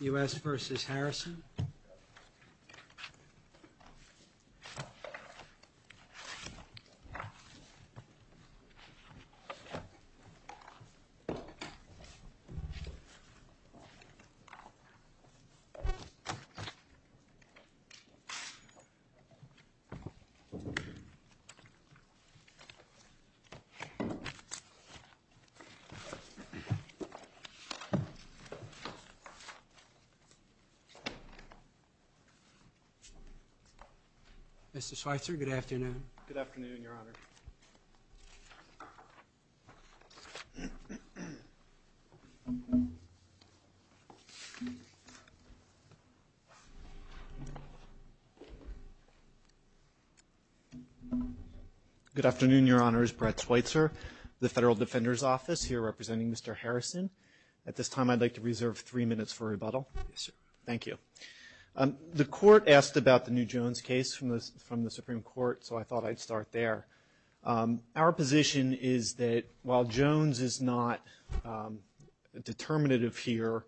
U.S. versus Harrison Good afternoon, Your Honor. Good afternoon, Your Honors. Brett Schweitzer, the Federal Defender's Office, here representing Mr. Harrison. At this time, I'd like to reserve three minutes for rebuttal. Yes, sir. Thank you. The court asked about the New Jones case from the Supreme Court, so I thought I'd start there. Our position is that while Jones is not determinative here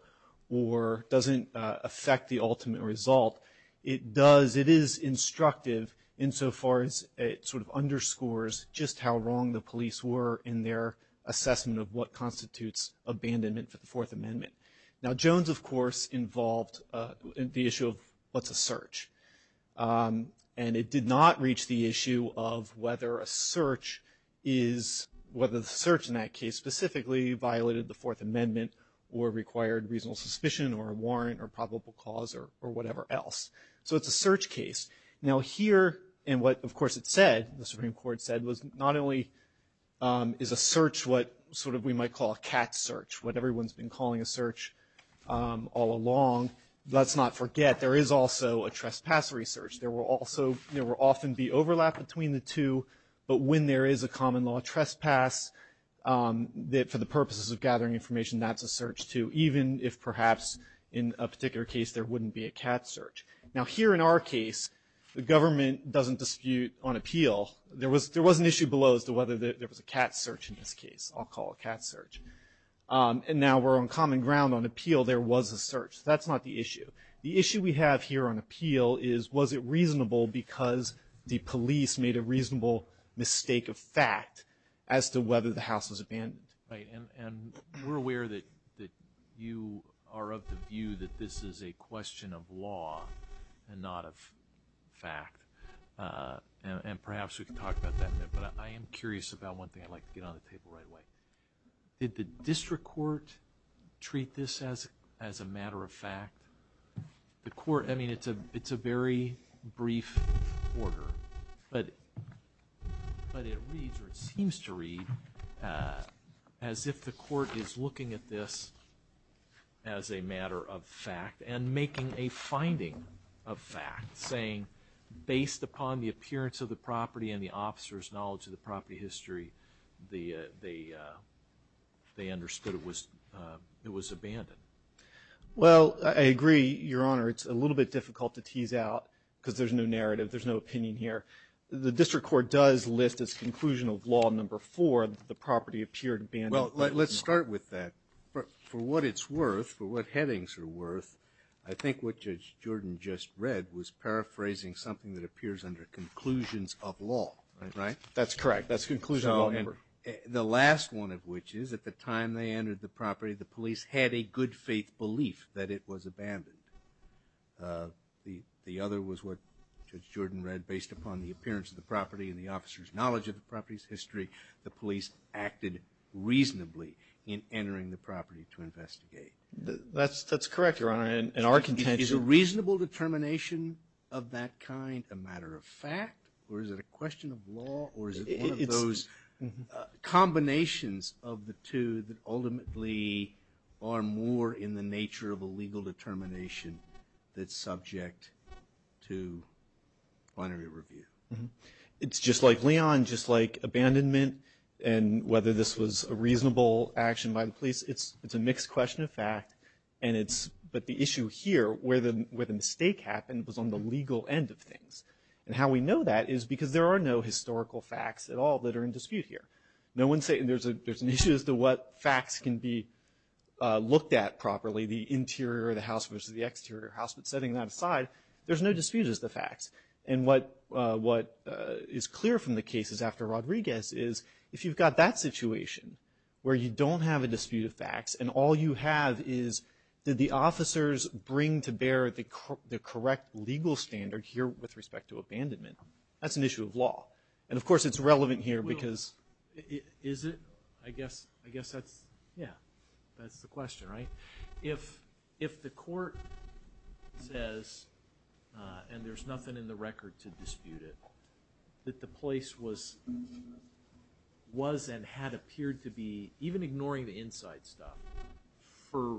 or doesn't affect the ultimate result, it does, it is instructive insofar as it sort of underscores just how wrong the police were in their assessment of what constitutes abandonment for the Fourth Amendment. Now, Jones, of course, involved the issue of what's a search, and it did not reach the issue of whether a search is, whether the search in that case specifically violated the Fourth Amendment or required reasonable suspicion or a warrant or probable cause or whatever else. So it's a search case. Now, here, and what, of course, it said, the Supreme Court said, was not only is a search what sort of we might call a cat search, what everyone's been calling a search all along, let's not forget, there is also a trespass research. There will also, there will often be overlap between the two, but when there is a common law trespass, for the purposes of gathering information, that's a search too, even if perhaps in a particular case there wouldn't be a cat search. Now, here in our case, the government doesn't dispute on appeal. There was an issue below as to whether there was a cat search in this case. I'll call it cat search. And now we're on common ground on appeal. There was a search. That's not the issue. The issue we have here on appeal is, was it reasonable because the police made a reasonable mistake of fact as to whether the house was abandoned. And we're aware that you are of the view that this is a question of law and not of fact. And perhaps we can talk about that in a minute, but I am curious about one thing. I'd like to get on the table right away. Did the district court treat this as a matter of fact? I mean, it's a very brief order, but it reads or it seems to read as if the court is looking at this as a matter of fact and making a finding of fact, saying based upon the appearance of the property and the officer's knowledge of the property history, they understood it was abandoned. Well, I agree, Your Honor. It's a little bit difficult to tease out because there's no narrative. There's no opinion here. The district court does list as conclusion of law number four that the property appeared abandoned. Well, let's start with that. For what it's worth, for what headings are worth, I think what Judge Jordan just read was paraphrasing something that appears under conclusions of law, right? That's correct. That's conclusion of law number four. The last one of which is at the time they entered the property, the police had a good faith belief that it was abandoned. The other was what Judge Jordan read based upon the appearance of the property and the officer's knowledge of the property's history. The police acted reasonably in entering the property to investigate. That's correct, Your Honor. In our contention. Is a reasonable determination of that kind a matter of fact or is it a question of law or is it one of those combinations of the two that ultimately are more in the nature of a legal determination that's subject to binary review? It's just like Leon, just like abandonment, and whether this was a reasonable action by the police, it's a mixed question of fact, but the issue here where the mistake happened was on the legal end of things. And how we know that is because there are no historical facts at all that are in dispute here. No one's saying there's an issue as to what facts can be looked at properly, the interior of the house versus the exterior of the house, but setting that aside, there's no dispute as to facts. And what is clear from the cases after Rodriguez is if you've got that situation where you don't have a dispute of facts and all you have is did the officers bring to bear the correct legal standard here with respect to abandonment? That's an issue of law. And, of course, it's relevant here because... Is it? I guess that's the question, right? If the court says, and there's nothing in the record to dispute it, that the place was and had appeared to be, even ignoring the inside stuff, for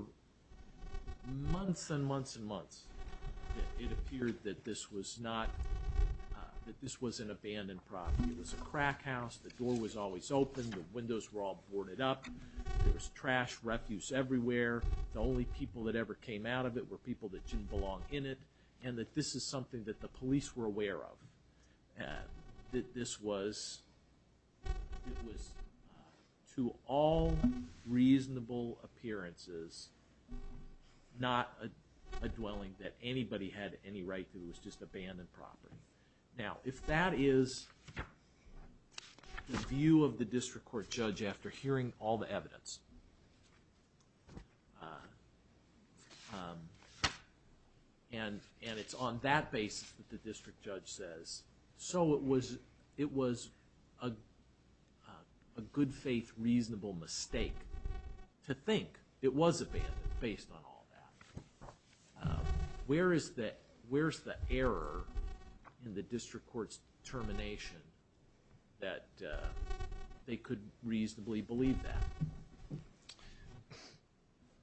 months and months and months, it appeared that this was an abandoned property. It was a crack house. The door was always open. The windows were all boarded up. There was trash refuse everywhere. The only people that ever came out of it were people that didn't belong in it, and that this is something that the police were aware of, that this was, to all reasonable appearances, not a dwelling that anybody had any right to. It was just abandoned property. Now, if that is the view of the district court judge after hearing all the evidence, and it's on that basis that the district judge says, so it was a good faith reasonable mistake to think it was abandoned based on all that, where is the error in the district court's determination that they could reasonably believe that?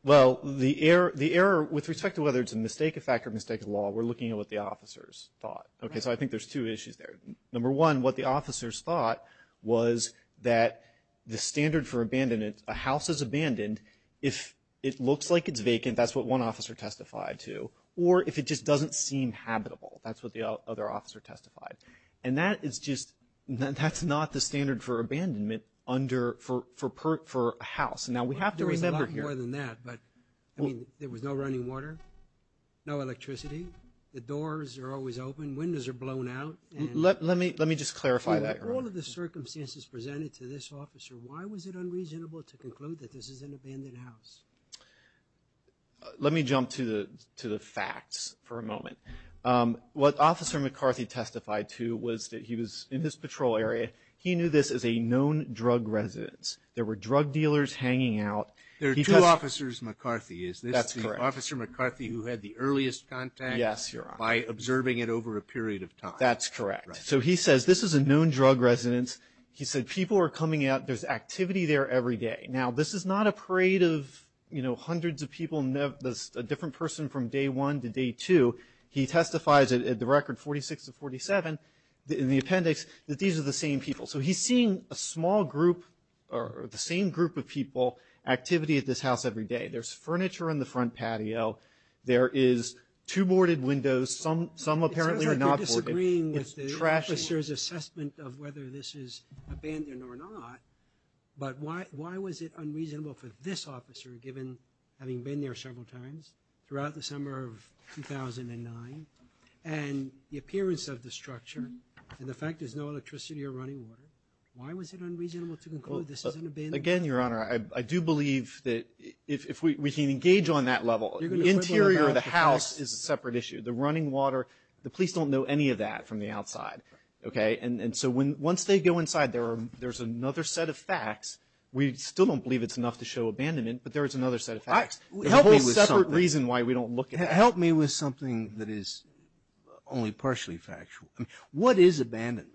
Well, the error with respect to whether it's a mistake of fact or a mistake of law, we're looking at what the officers thought. So I think there's two issues there. Number one, what the officers thought was that the standard for abandonment, a house is abandoned. And if it looks like it's vacant, that's what one officer testified to. Or if it just doesn't seem habitable, that's what the other officer testified. And that is just, that's not the standard for abandonment under, for a house. Now, we have to remember here. There was a lot more than that, but, I mean, there was no running water, no electricity. The doors are always open. Let me just clarify that, Your Honor. Under all of the circumstances presented to this officer, why was it unreasonable to conclude that this is an abandoned house? Let me jump to the facts for a moment. What Officer McCarthy testified to was that he was, in his patrol area, he knew this as a known drug residence. There were drug dealers hanging out. There are two Officers McCarthy, is this? That's correct. Officer McCarthy who had the earliest contact? Yes, Your Honor. By observing it over a period of time. That's correct. So he says this is a known drug residence. He said people are coming out. There's activity there every day. Now, this is not a parade of, you know, hundreds of people, a different person from day one to day two. He testifies at the record 46 to 47 in the appendix that these are the same people. So he's seeing a small group, or the same group of people, activity at this house every day. There's furniture on the front patio. There is two boarded windows. Some apparently are not boarded. I'm agreeing with the officer's assessment of whether this is abandoned or not, but why was it unreasonable for this officer, given having been there several times, throughout the summer of 2009, and the appearance of the structure and the fact there's no electricity or running water, why was it unreasonable to conclude this is an abandoned building? Again, Your Honor, I do believe that if we can engage on that level, the interior of the house is a separate issue. The running water, the police don't know any of that from the outside. Okay? And so once they go inside, there's another set of facts. We still don't believe it's enough to show abandonment, but there is another set of facts. Help me with something. A whole separate reason why we don't look at that. Help me with something that is only partially factual. What is abandonment?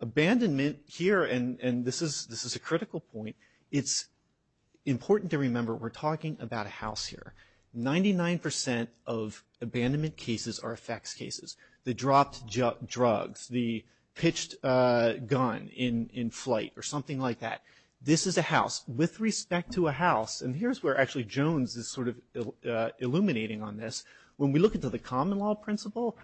Abandonment here, and this is a critical point, it's important to remember we're talking about a house here. Ninety-nine percent of abandonment cases are effects cases. The dropped drugs, the pitched gun in flight or something like that. This is a house. With respect to a house, and here's where actually Jones is sort of illuminating on this, when we look into the common law principle,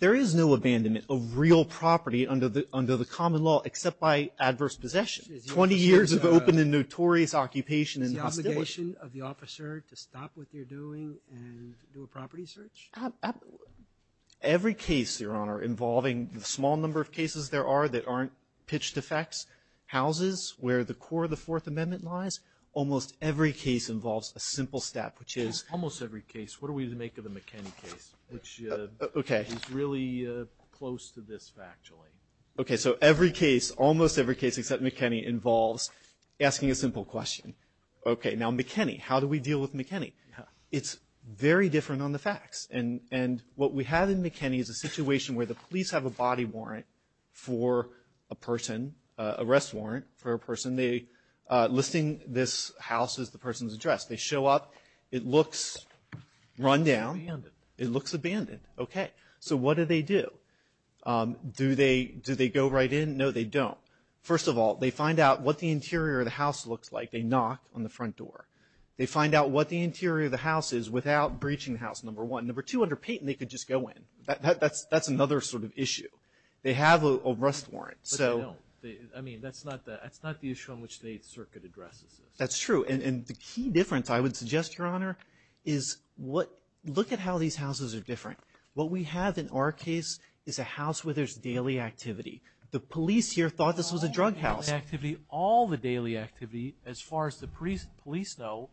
there is no abandonment of real property under the common law except by adverse possession. Twenty years of open and notorious occupation and hostility. Is it the obligation of the officer to stop what they're doing and do a property search? Every case, Your Honor, involving the small number of cases there are that aren't pitched effects, houses where the core of the Fourth Amendment lies, almost every case involves a simple step, which is- Almost every case. What do we make of the McKinney case, which is really close to this factually? Okay, so every case, almost every case except McKinney, involves asking a simple question. Okay, now McKinney. How do we deal with McKinney? It's very different on the facts. And what we have in McKinney is a situation where the police have a body warrant for a person, arrest warrant for a person, listing this house as the person's address. They show up. It looks run down. Abandoned. It looks abandoned. Okay, so what do they do? Do they go right in? No, they don't. First of all, they find out what the interior of the house looks like. They knock on the front door. They find out what the interior of the house is without breaching the house, number one. Number two, under Payton, they could just go in. That's another sort of issue. They have an arrest warrant. But they don't. I mean, that's not the issue on which the Eighth Circuit addresses this. That's true. And the key difference, I would suggest, Your Honor, is look at how these houses are different. What we have in our case is a house where there's daily activity. The police here thought this was a drug house. All the daily activity, as far as the police know,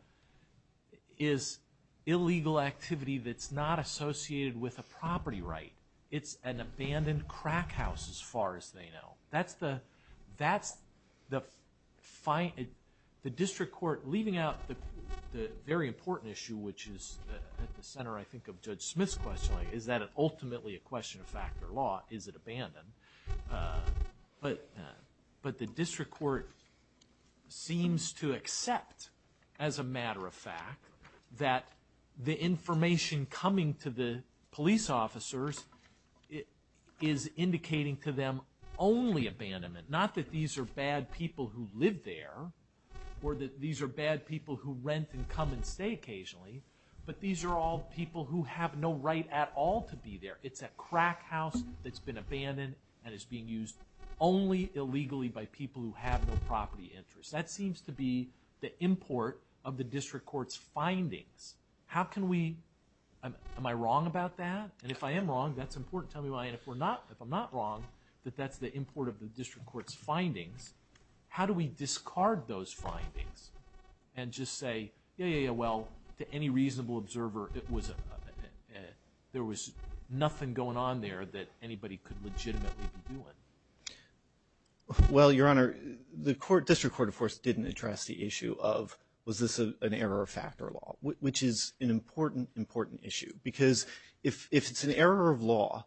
is illegal activity that's not associated with a property right. It's an abandoned crack house, as far as they know. That's the fine. The district court, leaving out the very important issue, which is at the center, I think, of Judge Smith's questioning, is that ultimately a question of fact or law? Is it abandoned? But the district court seems to accept, as a matter of fact, that the information coming to the police officers is indicating to them only abandonment. Not that these are bad people who live there or that these are bad people who rent and come and stay occasionally. But these are all people who have no right at all to be there. It's a crack house that's been abandoned and is being used only illegally by people who have no property interest. That seems to be the import of the district court's findings. How can we, am I wrong about that? And if I am wrong, that's important. Tell me why. And if I'm not wrong, that that's the import of the district court's findings, how do we discard those findings and just say, yeah, yeah, yeah, well, to any reasonable observer, there was nothing going on there that anybody could legitimately be doing? Well, Your Honor, the district court, of course, didn't address the issue of was this an error of fact or law, which is an important, important issue. Because if it's an error of law,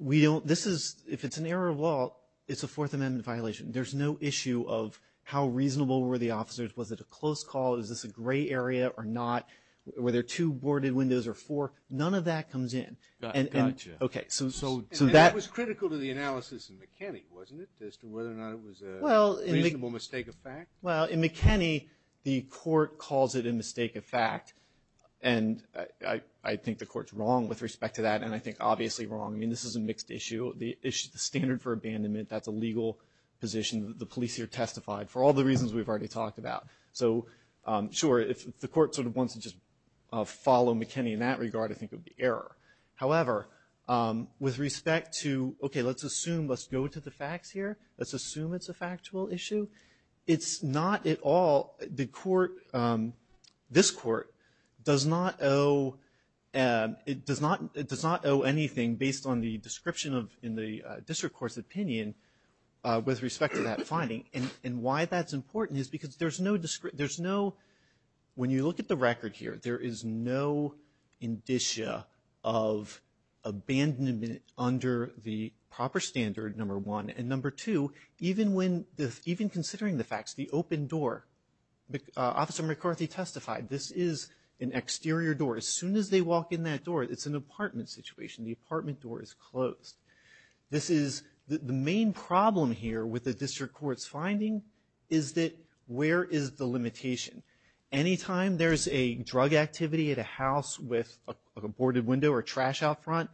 if it's an error of law, it's a Fourth Amendment violation. There's no issue of how reasonable were the officers? Was it a close call? Is this a gray area or not? Were there two boarded windows or four? None of that comes in. Gotcha. And that was critical to the analysis in McKinney, wasn't it, as to whether or not it was a reasonable mistake of fact? Well, in McKinney, the court calls it a mistake of fact. And I think the court's wrong with respect to that, and I think obviously wrong. I mean, this is a mixed issue. The standard for abandonment, that's a legal position. The police here testified for all the reasons we've already talked about. So, sure, if the court sort of wants to just follow McKinney in that regard, I think it would be error. However, with respect to, okay, let's assume, let's go to the facts here. Let's assume it's a factual issue. It's not at all, the court, this court does not owe, it does not owe anything based on the description of, in the district court's opinion with respect to that finding. And why that's important is because there's no, when you look at the record here, there is no indicia of abandonment under the proper standard, number one. And number two, even when, even considering the facts, the open door, Officer McCarthy testified, this is an exterior door. As soon as they walk in that door, it's an apartment situation. The apartment door is closed. This is, the main problem here with the district court's finding is that where is the limitation? Anytime there's a drug activity at a house with a boarded window or trash out front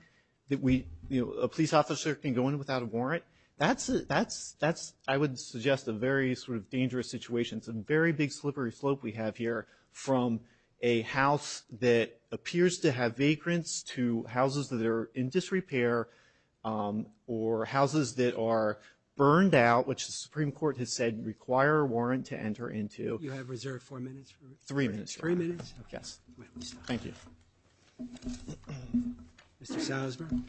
that we, you know, a police officer can go in without a warrant, that's, that's, that's, I would suggest a very sort of dangerous situation. It's a very big slippery slope we have here from a house that appears to have vagrants to houses that are in disrepair or houses that are burned out, which the Supreme Court has said require a warrant to enter into. Roberts. You have reserved four minutes. Three minutes. Three minutes. Yes. Thank you. Mr. Salzberg.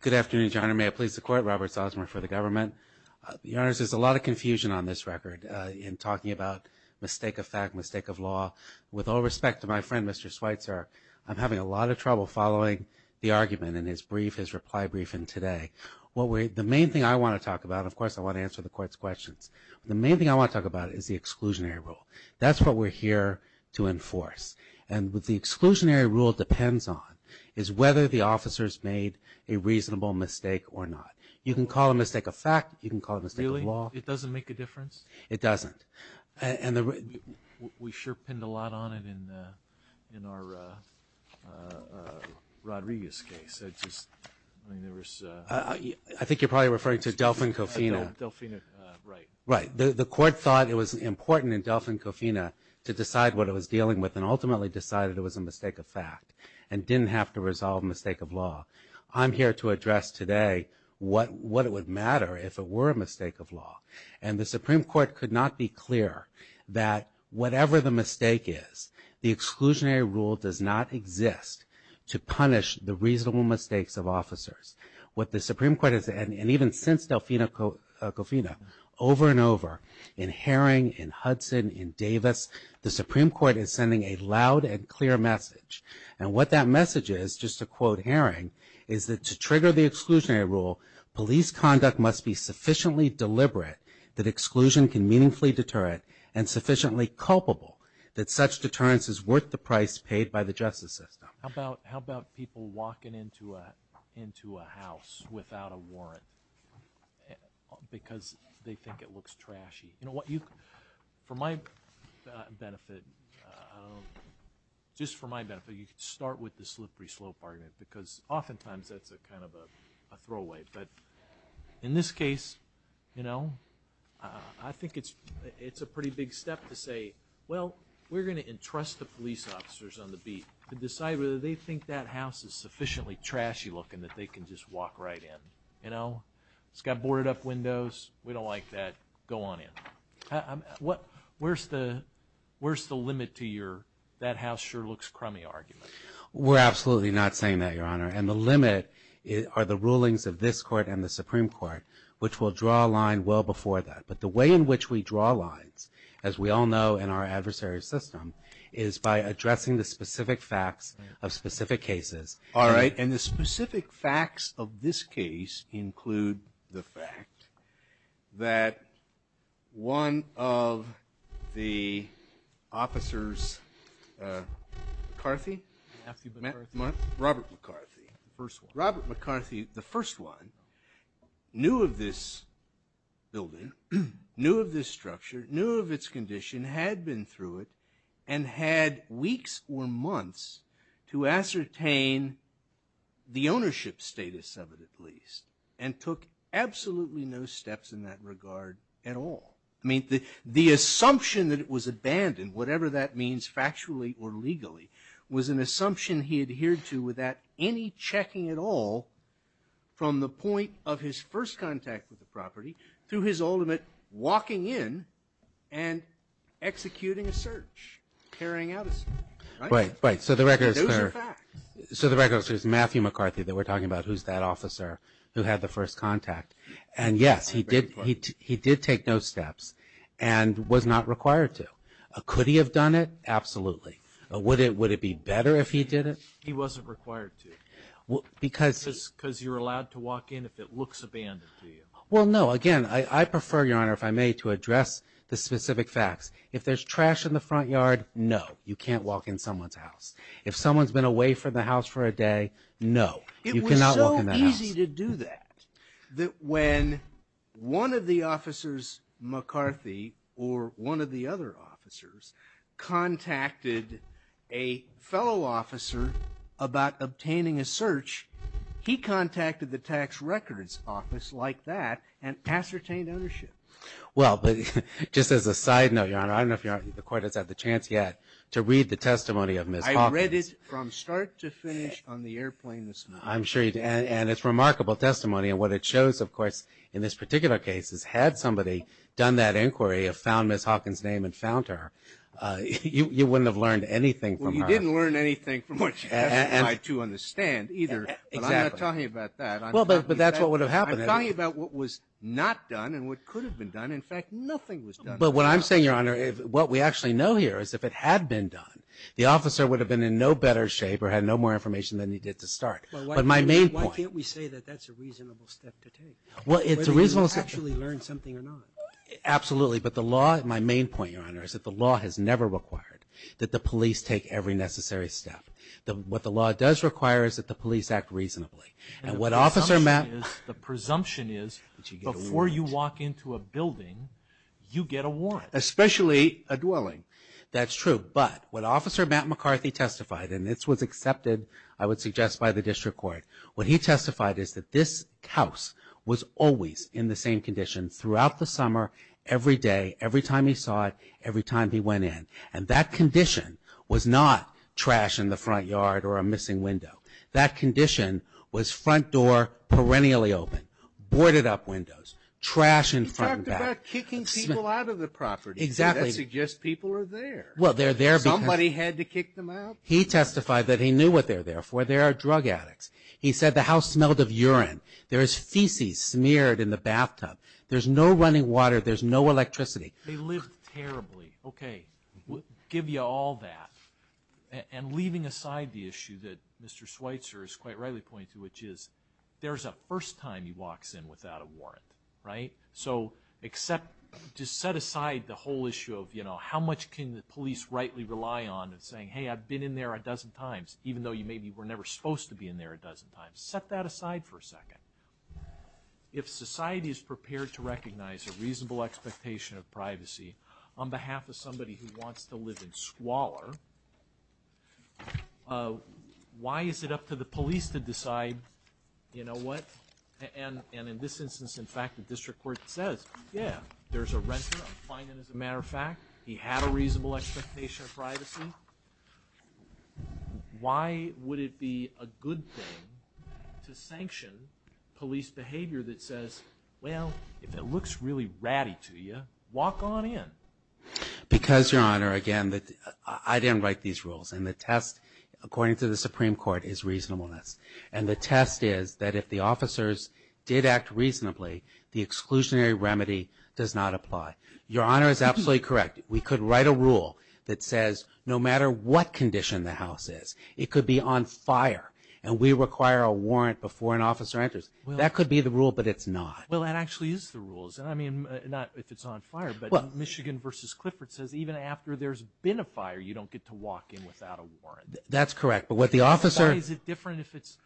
Good afternoon, Your Honor. May I please support Robert Salzberg for the government? Your Honor, there's a lot of confusion on this record in talking about mistake of fact, mistake of law. With all respect to my friend, Mr. Schweitzer, I'm having a lot of trouble following the argument in his brief, his reply briefing today. What we're, the main thing I want to talk about, of course, I want to answer the court's questions. The main thing I want to talk about is the exclusionary rule. That's what we're here to enforce. And what the exclusionary rule depends on is whether the officer's made a reasonable mistake or not. You can call a mistake a fact. You can call a mistake a law. Really? It doesn't make a difference? It doesn't. And the, we sure pinned a lot on it in, in our Rodriguez case. I just, I mean, there was. I think you're probably referring to Delfin-Cofina. Delfina, right. Right. The court thought it was important in Delfin-Cofina to decide what it was dealing with and ultimately decided it was a mistake of fact and didn't have to resolve mistake of law. I'm here to address today what, what it would matter if it were a mistake of law. And the Supreme Court could not be clearer that whatever the mistake is, the exclusionary rule does not exist to punish the reasonable mistakes of officers. What the Supreme Court has, and even since Delfina-Cofina, over and over, in Herring, in Hudson, in Davis, the Supreme Court is sending a loud and clear message. And what that message is, just to quote Herring, is that to trigger the exclusionary rule, police conduct must be sufficiently deliberate that exclusion can meaningfully deter it and sufficiently culpable that such deterrence is worth the price paid by the justice system. How about, how about people walking into a, into a house without a warrant because they think it looks trashy? You know what, you, for my benefit, just for my benefit, you could start with the slippery slope argument because oftentimes that's a kind of a throwaway. But in this case, you know, I think it's, it's a pretty big step to say, well, we're going to entrust the police officers on the beat to decide whether they think that house is sufficiently trashy looking that they can just walk right in. You know, it's got boarded up windows, we don't like that, go on in. What, where's the, where's the limit to your that house sure looks crummy argument? We're absolutely not saying that, Your Honor. And the limit are the rulings of this court and the Supreme Court, which will draw a line well before that. But the way in which we draw lines, as we all know in our adversary system, is by addressing the specific facts of specific cases. All right. And the specific facts of this case include the fact that one of the officers, McCarthy? Matthew McCarthy. Robert McCarthy. First one. Robert McCarthy, the first one, knew of this building, knew of this structure, knew of its condition, had been through it, and had weeks or months to ascertain the ownership status of it, at least, and took absolutely no steps in that regard at all. I mean, the assumption that it was abandoned, whatever that means factually or legally, was an assumption he adhered to without any checking at all from the point of his first contact with the property through his ultimate walking in and executing a search, carrying out a search. Right? Right. So the record is there. Those are facts. So the record is there's Matthew McCarthy that we're talking about, who's that officer who had the first contact. And, yes, he did take those steps and was not required to. Could he have done it? Absolutely. Would it be better if he did it? He wasn't required to because you're allowed to walk in if it looks abandoned to you. Well, no. Again, I prefer, Your Honor, if I may, to address the specific facts. If there's trash in the front yard, no, you can't walk in someone's house. If someone's been away from the house for a day, no, you cannot walk in that house. It's easy to do that, that when one of the officers, McCarthy, or one of the other officers, contacted a fellow officer about obtaining a search, he contacted the tax records office like that and ascertained ownership. Well, but just as a side note, Your Honor, I don't know if the Court has had the chance yet to read the testimony of Ms. Hopkins. I read it from start to finish on the airplane this morning. I'm sure you did. And it's remarkable testimony. And what it shows, of course, in this particular case is had somebody done that inquiry, found Ms. Hopkins' name and found her, you wouldn't have learned anything from her. Well, you didn't learn anything from what you asked me to understand either. Exactly. But I'm not talking about that. Well, but that's what would have happened. I'm talking about what was not done and what could have been done. In fact, nothing was done. But what I'm saying, Your Honor, what we actually know here is if it had been done, the officer would have been in no better shape or had no more information than he did to start. But my main point. Well, why can't we say that that's a reasonable step to take? Well, it's a reasonable step. Whether you actually learned something or not. Absolutely. But the law, my main point, Your Honor, is that the law has never required that the police take every necessary step. What the law does require is that the police act reasonably. And the presumption is before you walk into a building, you get a warrant. Especially a dwelling. That's true. But what Officer Matt McCarthy testified, and this was accepted, I would suggest, by the district court, what he testified is that this house was always in the same condition throughout the summer, every day, every time he saw it, every time he went in. And that condition was not trash in the front yard or a missing window. That condition was front door perennially open, boarded up windows, trash in front and back. He talked about kicking people out of the property. Exactly. That suggests people are there. Well, they're there because Somebody had to kick them out. He testified that he knew what they're there for. They are drug addicts. He said the house smelled of urine. There is feces smeared in the bathtub. There's no running water. There's no electricity. They lived terribly. Okay. We'll give you all that. And leaving aside the issue that Mr. Schweitzer has quite rightly pointed to, which is there's a first time he walks in without a warrant, right? So just set aside the whole issue of how much can the police rightly rely on in saying, hey, I've been in there a dozen times, even though you maybe were never supposed to be in there a dozen times. Set that aside for a second. If society is prepared to recognize a reasonable expectation of privacy on behalf of somebody who wants to live in squalor, why is it up to the police to decide, you know what? And in this instance, in fact, the district court says, yeah, there's a renter. I'm fine with it as a matter of fact. He had a reasonable expectation of privacy. Why would it be a good thing to sanction police behavior that says, well, if it looks really ratty to you, walk on in? Because, Your Honor, again, I didn't write these rules. And the test, according to the Supreme Court, is reasonableness. And the test is that if the officers did act reasonably, the exclusionary remedy does not apply. Your Honor is absolutely correct. We could write a rule that says no matter what condition the house is, it could be on fire and we require a warrant before an officer enters. That could be the rule, but it's not. Well, that actually is the rule. I mean, not if it's on fire, but Michigan v. Clifford says even after there's been a fire, you don't get to walk in without a warrant. That's correct. Why is it different if it's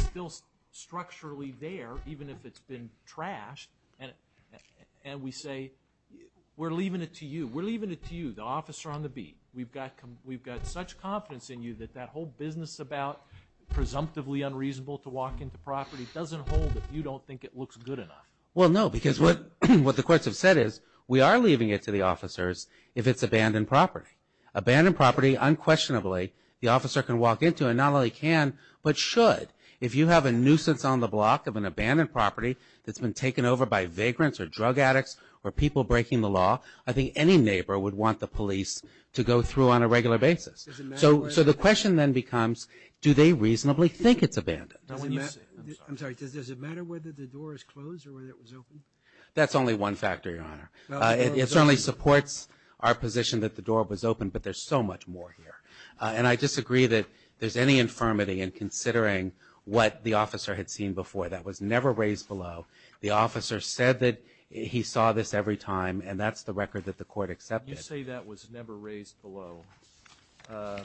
still structurally there even if it's been trashed and we say we're leaving it to you, we're leaving it to you, the officer on the beat. We've got such confidence in you that that whole business about presumptively unreasonable to walk into property doesn't hold if you don't think it looks good enough. Well, no, because what the courts have said is we are leaving it to the officers if it's abandoned property. Abandoned property unquestionably the officer can walk into and not only can, but should. If you have a nuisance on the block of an abandoned property that's been taken over by vagrants or drug addicts or people breaking the law, I think any neighbor would want the police to go through on a regular basis. So the question then becomes do they reasonably think it's abandoned? I'm sorry, does it matter whether the door is closed or whether it was opened? That's only one factor, Your Honor. It certainly supports our position that the door was opened, but there's so much more here. And I disagree that there's any infirmity in considering what the officer had seen before. That was never raised below. The officer said that he saw this every time, and that's the record that the court accepted. You say that was never raised below. I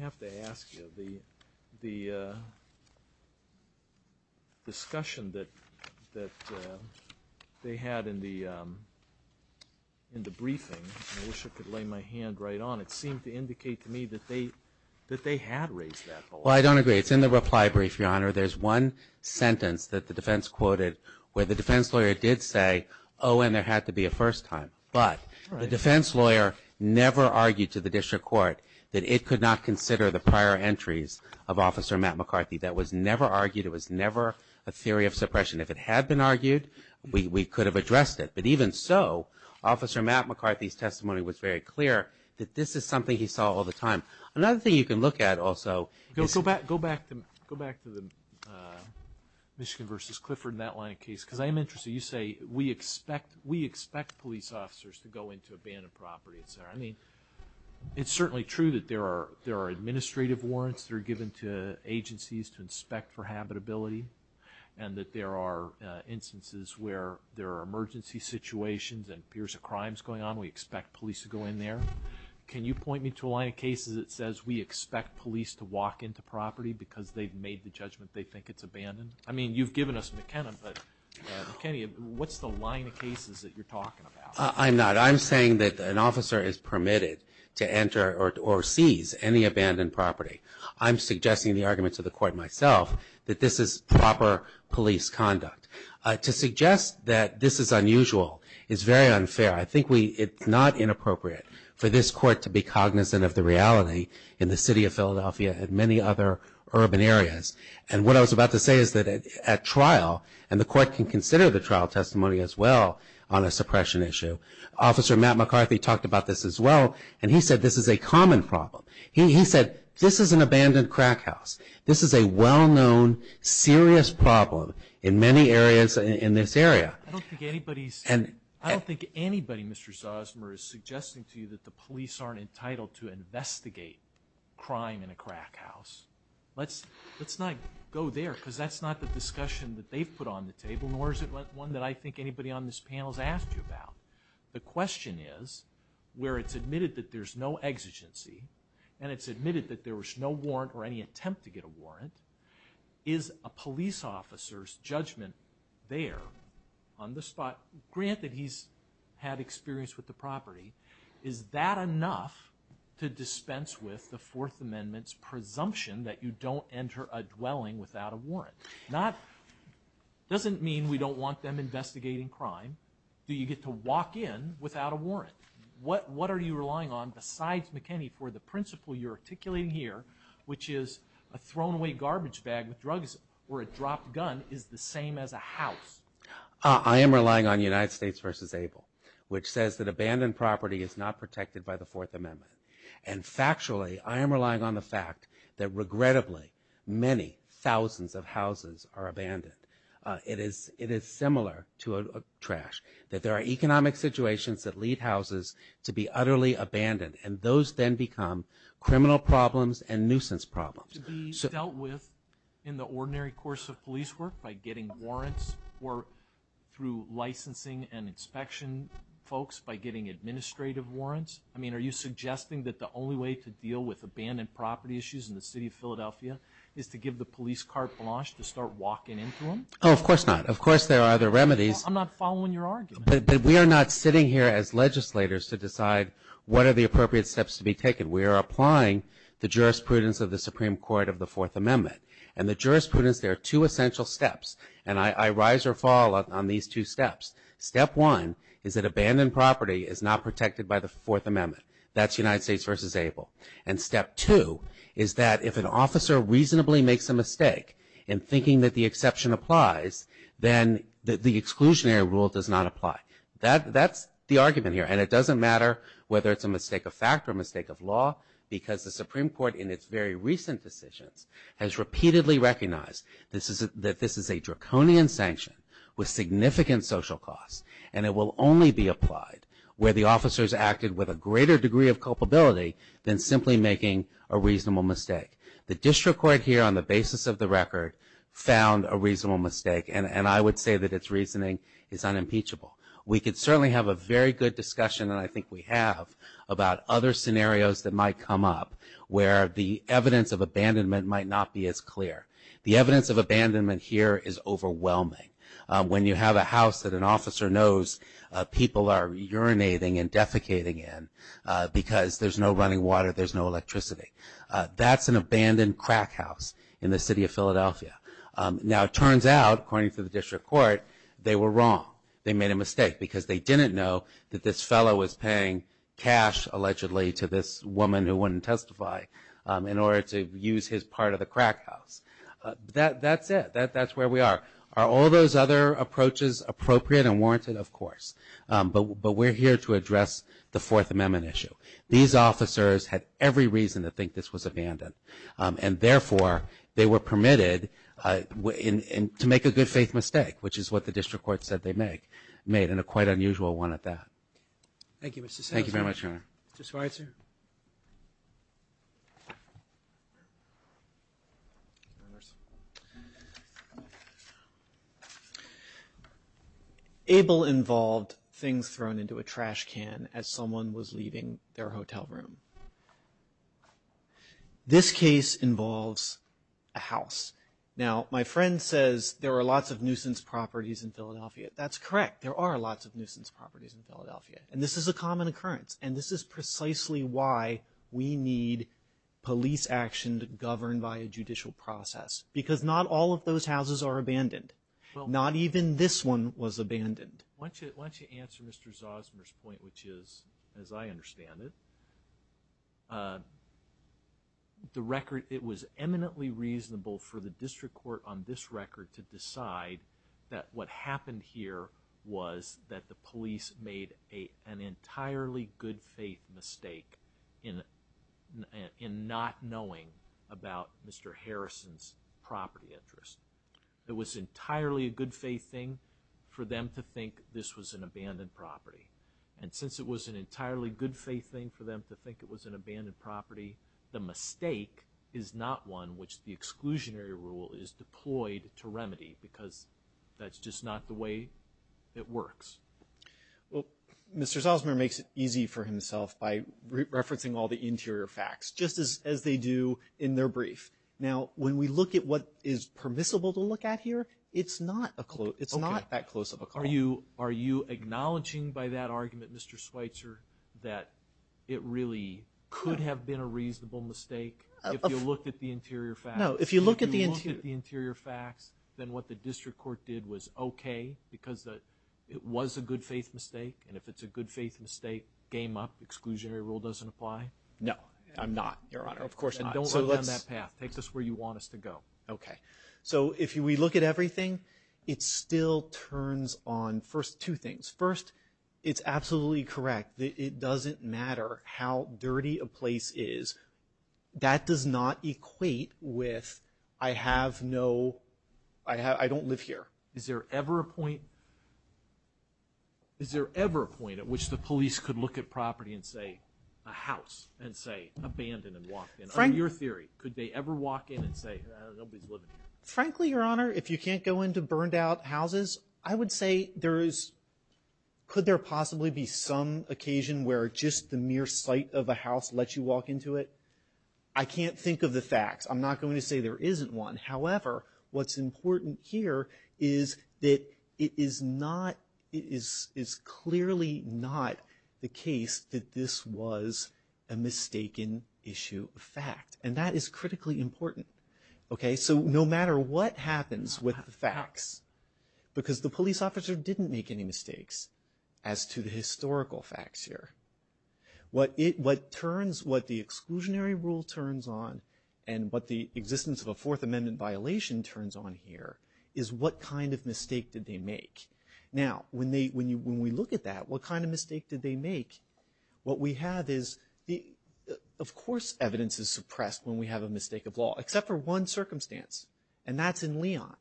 have to ask you, the discussion that they had in the briefing, I wish I could lay my hand right on it, seemed to indicate to me that they had raised that below. Well, I don't agree. However, there's one sentence that the defense quoted where the defense lawyer did say, oh, and there had to be a first time. But the defense lawyer never argued to the district court that it could not consider the prior entries of Officer Matt McCarthy. That was never argued. It was never a theory of suppression. If it had been argued, we could have addressed it. But even so, Officer Matt McCarthy's testimony was very clear that this is something he saw all the time. Another thing you can look at, also, is Go back to the Michigan v. Clifford and that line of case. Because I am interested. You say we expect police officers to go into abandoned property, et cetera. I mean, it's certainly true that there are administrative warrants that are given to agencies to inspect for habitability, and that there are instances where there are emergency situations and fears of crimes going on. We expect police to go in there. Can you point me to a line of cases that says we expect police to walk into property because they've made the judgment they think it's abandoned? I mean, you've given us McKenna, but McKinney, what's the line of cases that you're talking about? I'm not. I'm saying that an officer is permitted to enter or seize any abandoned property. I'm suggesting in the arguments of the court myself that this is proper police conduct. To suggest that this is unusual is very unfair. I think it's not inappropriate for this court to be cognizant of the reality in the city of Philadelphia and many other urban areas. And what I was about to say is that at trial, and the court can consider the trial testimony as well on a suppression issue, Officer Matt McCarthy talked about this as well, and he said this is a common problem. He said this is an abandoned crack house. This is a well-known, serious problem in many areas in this area. I don't think anybody, Mr. Zosmer, is suggesting to you that the police aren't entitled to investigate crime in a crack house. Let's not go there because that's not the discussion that they've put on the table, nor is it one that I think anybody on this panel has asked you about. The question is, where it's admitted that there's no exigency and it's admitted that there was no warrant or any attempt to get a warrant, is a police officer's judgment there on the spot, granted he's had experience with the property, is that enough to dispense with the Fourth Amendment's presumption that you don't enter a dwelling without a warrant? It doesn't mean we don't want them investigating crime. Do you get to walk in without a warrant? What are you relying on besides McKinney for the principle you're articulating here, which is a thrown-away garbage bag with drugs or a dropped gun is the same as a house? I am relying on United States v. Abel, which says that abandoned property is not protected by the Fourth Amendment. And factually, I am relying on the fact that, regrettably, many thousands of houses are abandoned. It is similar to a trash, that there are economic situations that lead houses to be utterly abandoned, and those then become criminal problems and nuisance problems. Is it to be dealt with in the ordinary course of police work by getting warrants or through licensing and inspection folks by getting administrative warrants? I mean, are you suggesting that the only way to deal with abandoned property issues in the city of Philadelphia is to give the police carte blanche to start walking into them? Oh, of course not. Of course there are other remedies. I'm not following your argument. But we are not sitting here as legislators to decide what are the appropriate steps to be taken. We are applying the jurisprudence of the Supreme Court of the Fourth Amendment. And the jurisprudence, there are two essential steps. And I rise or fall on these two steps. Step one is that abandoned property is not protected by the Fourth Amendment. That's United States v. Abel. And step two is that if an officer reasonably makes a mistake in thinking that the exception applies, then the exclusionary rule does not apply. That's the argument here. And it doesn't matter whether it's a mistake of fact or a mistake of law, because the Supreme Court in its very recent decisions has repeatedly recognized that this is a draconian sanction with significant social costs, and it will only be applied where the officer has acted with a greater degree of culpability than simply making a reasonable mistake. The district court here on the basis of the record found a reasonable mistake, and I would say that its reasoning is unimpeachable. We could certainly have a very good discussion, and I think we have, about other scenarios that might come up where the evidence of abandonment might not be as clear. The evidence of abandonment here is overwhelming. When you have a house that an officer knows people are urinating and defecating in because there's no running water, there's no electricity, that's an abandoned crack house in the city of Philadelphia. Now it turns out, according to the district court, they were wrong. They made a mistake because they didn't know that this fellow was paying cash, allegedly, to this woman who wouldn't testify in order to use his part of the crack house. That's it. That's where we are. Are all those other approaches appropriate and warranted? Of course. But we're here to address the Fourth Amendment issue. These officers had every reason to think this was abandoned, and therefore they were permitted to make a good faith mistake, which is what the district court said they made, and a quite unusual one at that. Thank you, Mr. Salazar. Thank you very much, Your Honor. Mr. Schweitzer. Thank you. Abel involved things thrown into a trash can as someone was leaving their hotel room. This case involves a house. Now my friend says there are lots of nuisance properties in Philadelphia. That's correct. There are lots of nuisance properties in Philadelphia, and this is a common occurrence, and this is precisely why we need police action governed by a judicial process, because not all of those houses are abandoned. Not even this one was abandoned. Why don't you answer Mr. Zosmer's point, which is, as I understand it, it was eminently reasonable for the district court on this record to decide that what happened here was that the police made an entirely good faith mistake in not knowing about Mr. Harrison's property interest. It was entirely a good faith thing for them to think this was an abandoned property, and since it was an entirely good faith thing for them to think it was an abandoned property, the mistake is not one which the exclusionary rule is deployed to remedy, because that's just not the way it works. Well, Mr. Zosmer makes it easy for himself by referencing all the interior facts, just as they do in their brief. Now, when we look at what is permissible to look at here, it's not that close of a call. Are you acknowledging by that argument, Mr. Schweitzer, that it really could have been a reasonable mistake if you looked at the interior facts? No, if you look at the interior facts, then what the district court did was okay because it was a good faith mistake, and if it's a good faith mistake, game up, exclusionary rule doesn't apply? No, I'm not, Your Honor. Of course not. Then don't run down that path. Take us where you want us to go. Okay. So if we look at everything, it still turns on first two things. First, it's absolutely correct that it doesn't matter how dirty a place is. That does not equate with I don't live here. Is there ever a point at which the police could look at property and say a house and say abandoned and walked in? In your theory, could they ever walk in and say nobody's living here? Frankly, Your Honor, if you can't go into burned-out houses, I would say there is Could there possibly be some occasion where just the mere sight of a house lets you walk into it? I can't think of the facts. I'm not going to say there isn't one. However, what's important here is that it is clearly not the case that this was a mistaken issue of fact, and that is critically important. So no matter what happens with the facts, because the police officer didn't make any mistakes as to the historical facts here, what the exclusionary rule turns on and what the existence of a Fourth Amendment violation turns on here is what kind of mistake did they make. Now, when we look at that, what kind of mistake did they make? What we have is, of course evidence is suppressed when we have a mistake of law, except for one circumstance, and that's in Leon.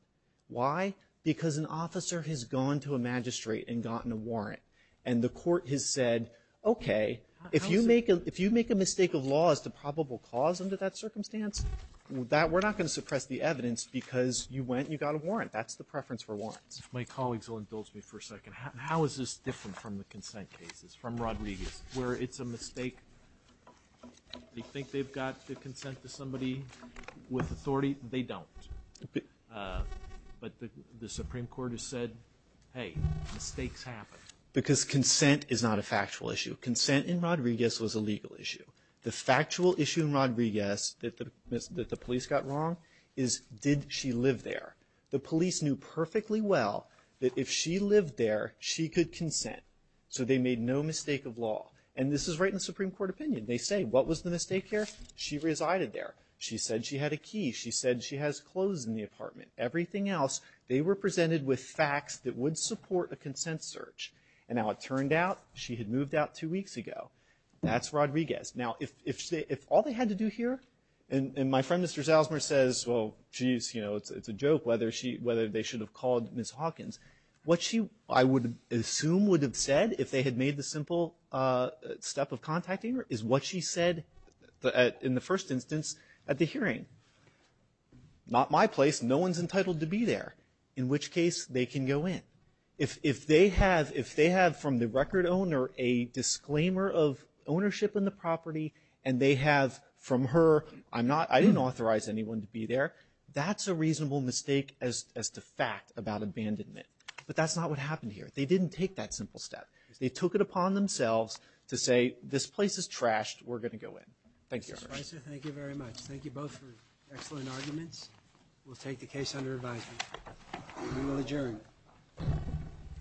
Why? Because an officer has gone to a magistrate and gotten a warrant, and the court has said, okay, if you make a mistake of law as to probable cause under that circumstance, we're not going to suppress the evidence because you went and you got a warrant. That's the preference for warrants. If my colleagues will indulge me for a second. How is this different from the consent cases, from Rodriguez, where it's a mistake? You think they've got to consent to somebody with authority? They don't. But the Supreme Court has said, hey, mistakes happen. Because consent is not a factual issue. Consent in Rodriguez was a legal issue. The factual issue in Rodriguez that the police got wrong is, did she live there? The police knew perfectly well that if she lived there, she could consent. So they made no mistake of law. And this is right in the Supreme Court opinion. They say, what was the mistake here? She resided there. She said she had a key. She said she has clothes in the apartment. Everything else, they were presented with facts that would support a consent search. And now it turned out, she had moved out two weeks ago. That's Rodriguez. Now, if all they had to do here, and my friend Mr. Zalsmer says, well, it's a joke whether they should have called Ms. Hawkins. What she, I would assume, would have said, if they had made the simple step of contacting her, is what she said in the first instance at the hearing. Not my place. No one's entitled to be there. In which case, they can go in. If they have, from the record owner, a disclaimer of ownership in the property, and they have, from her, I didn't authorize anyone to be there. That's a reasonable mistake as to fact about abandonment. But that's not what happened here. They didn't take that simple step. They took it upon themselves to say, this place is trashed. We're going to go in. Thank you. Mr. Spicer, thank you very much. Thank you both for excellent arguments. We'll take the case under advisement. We will adjourn.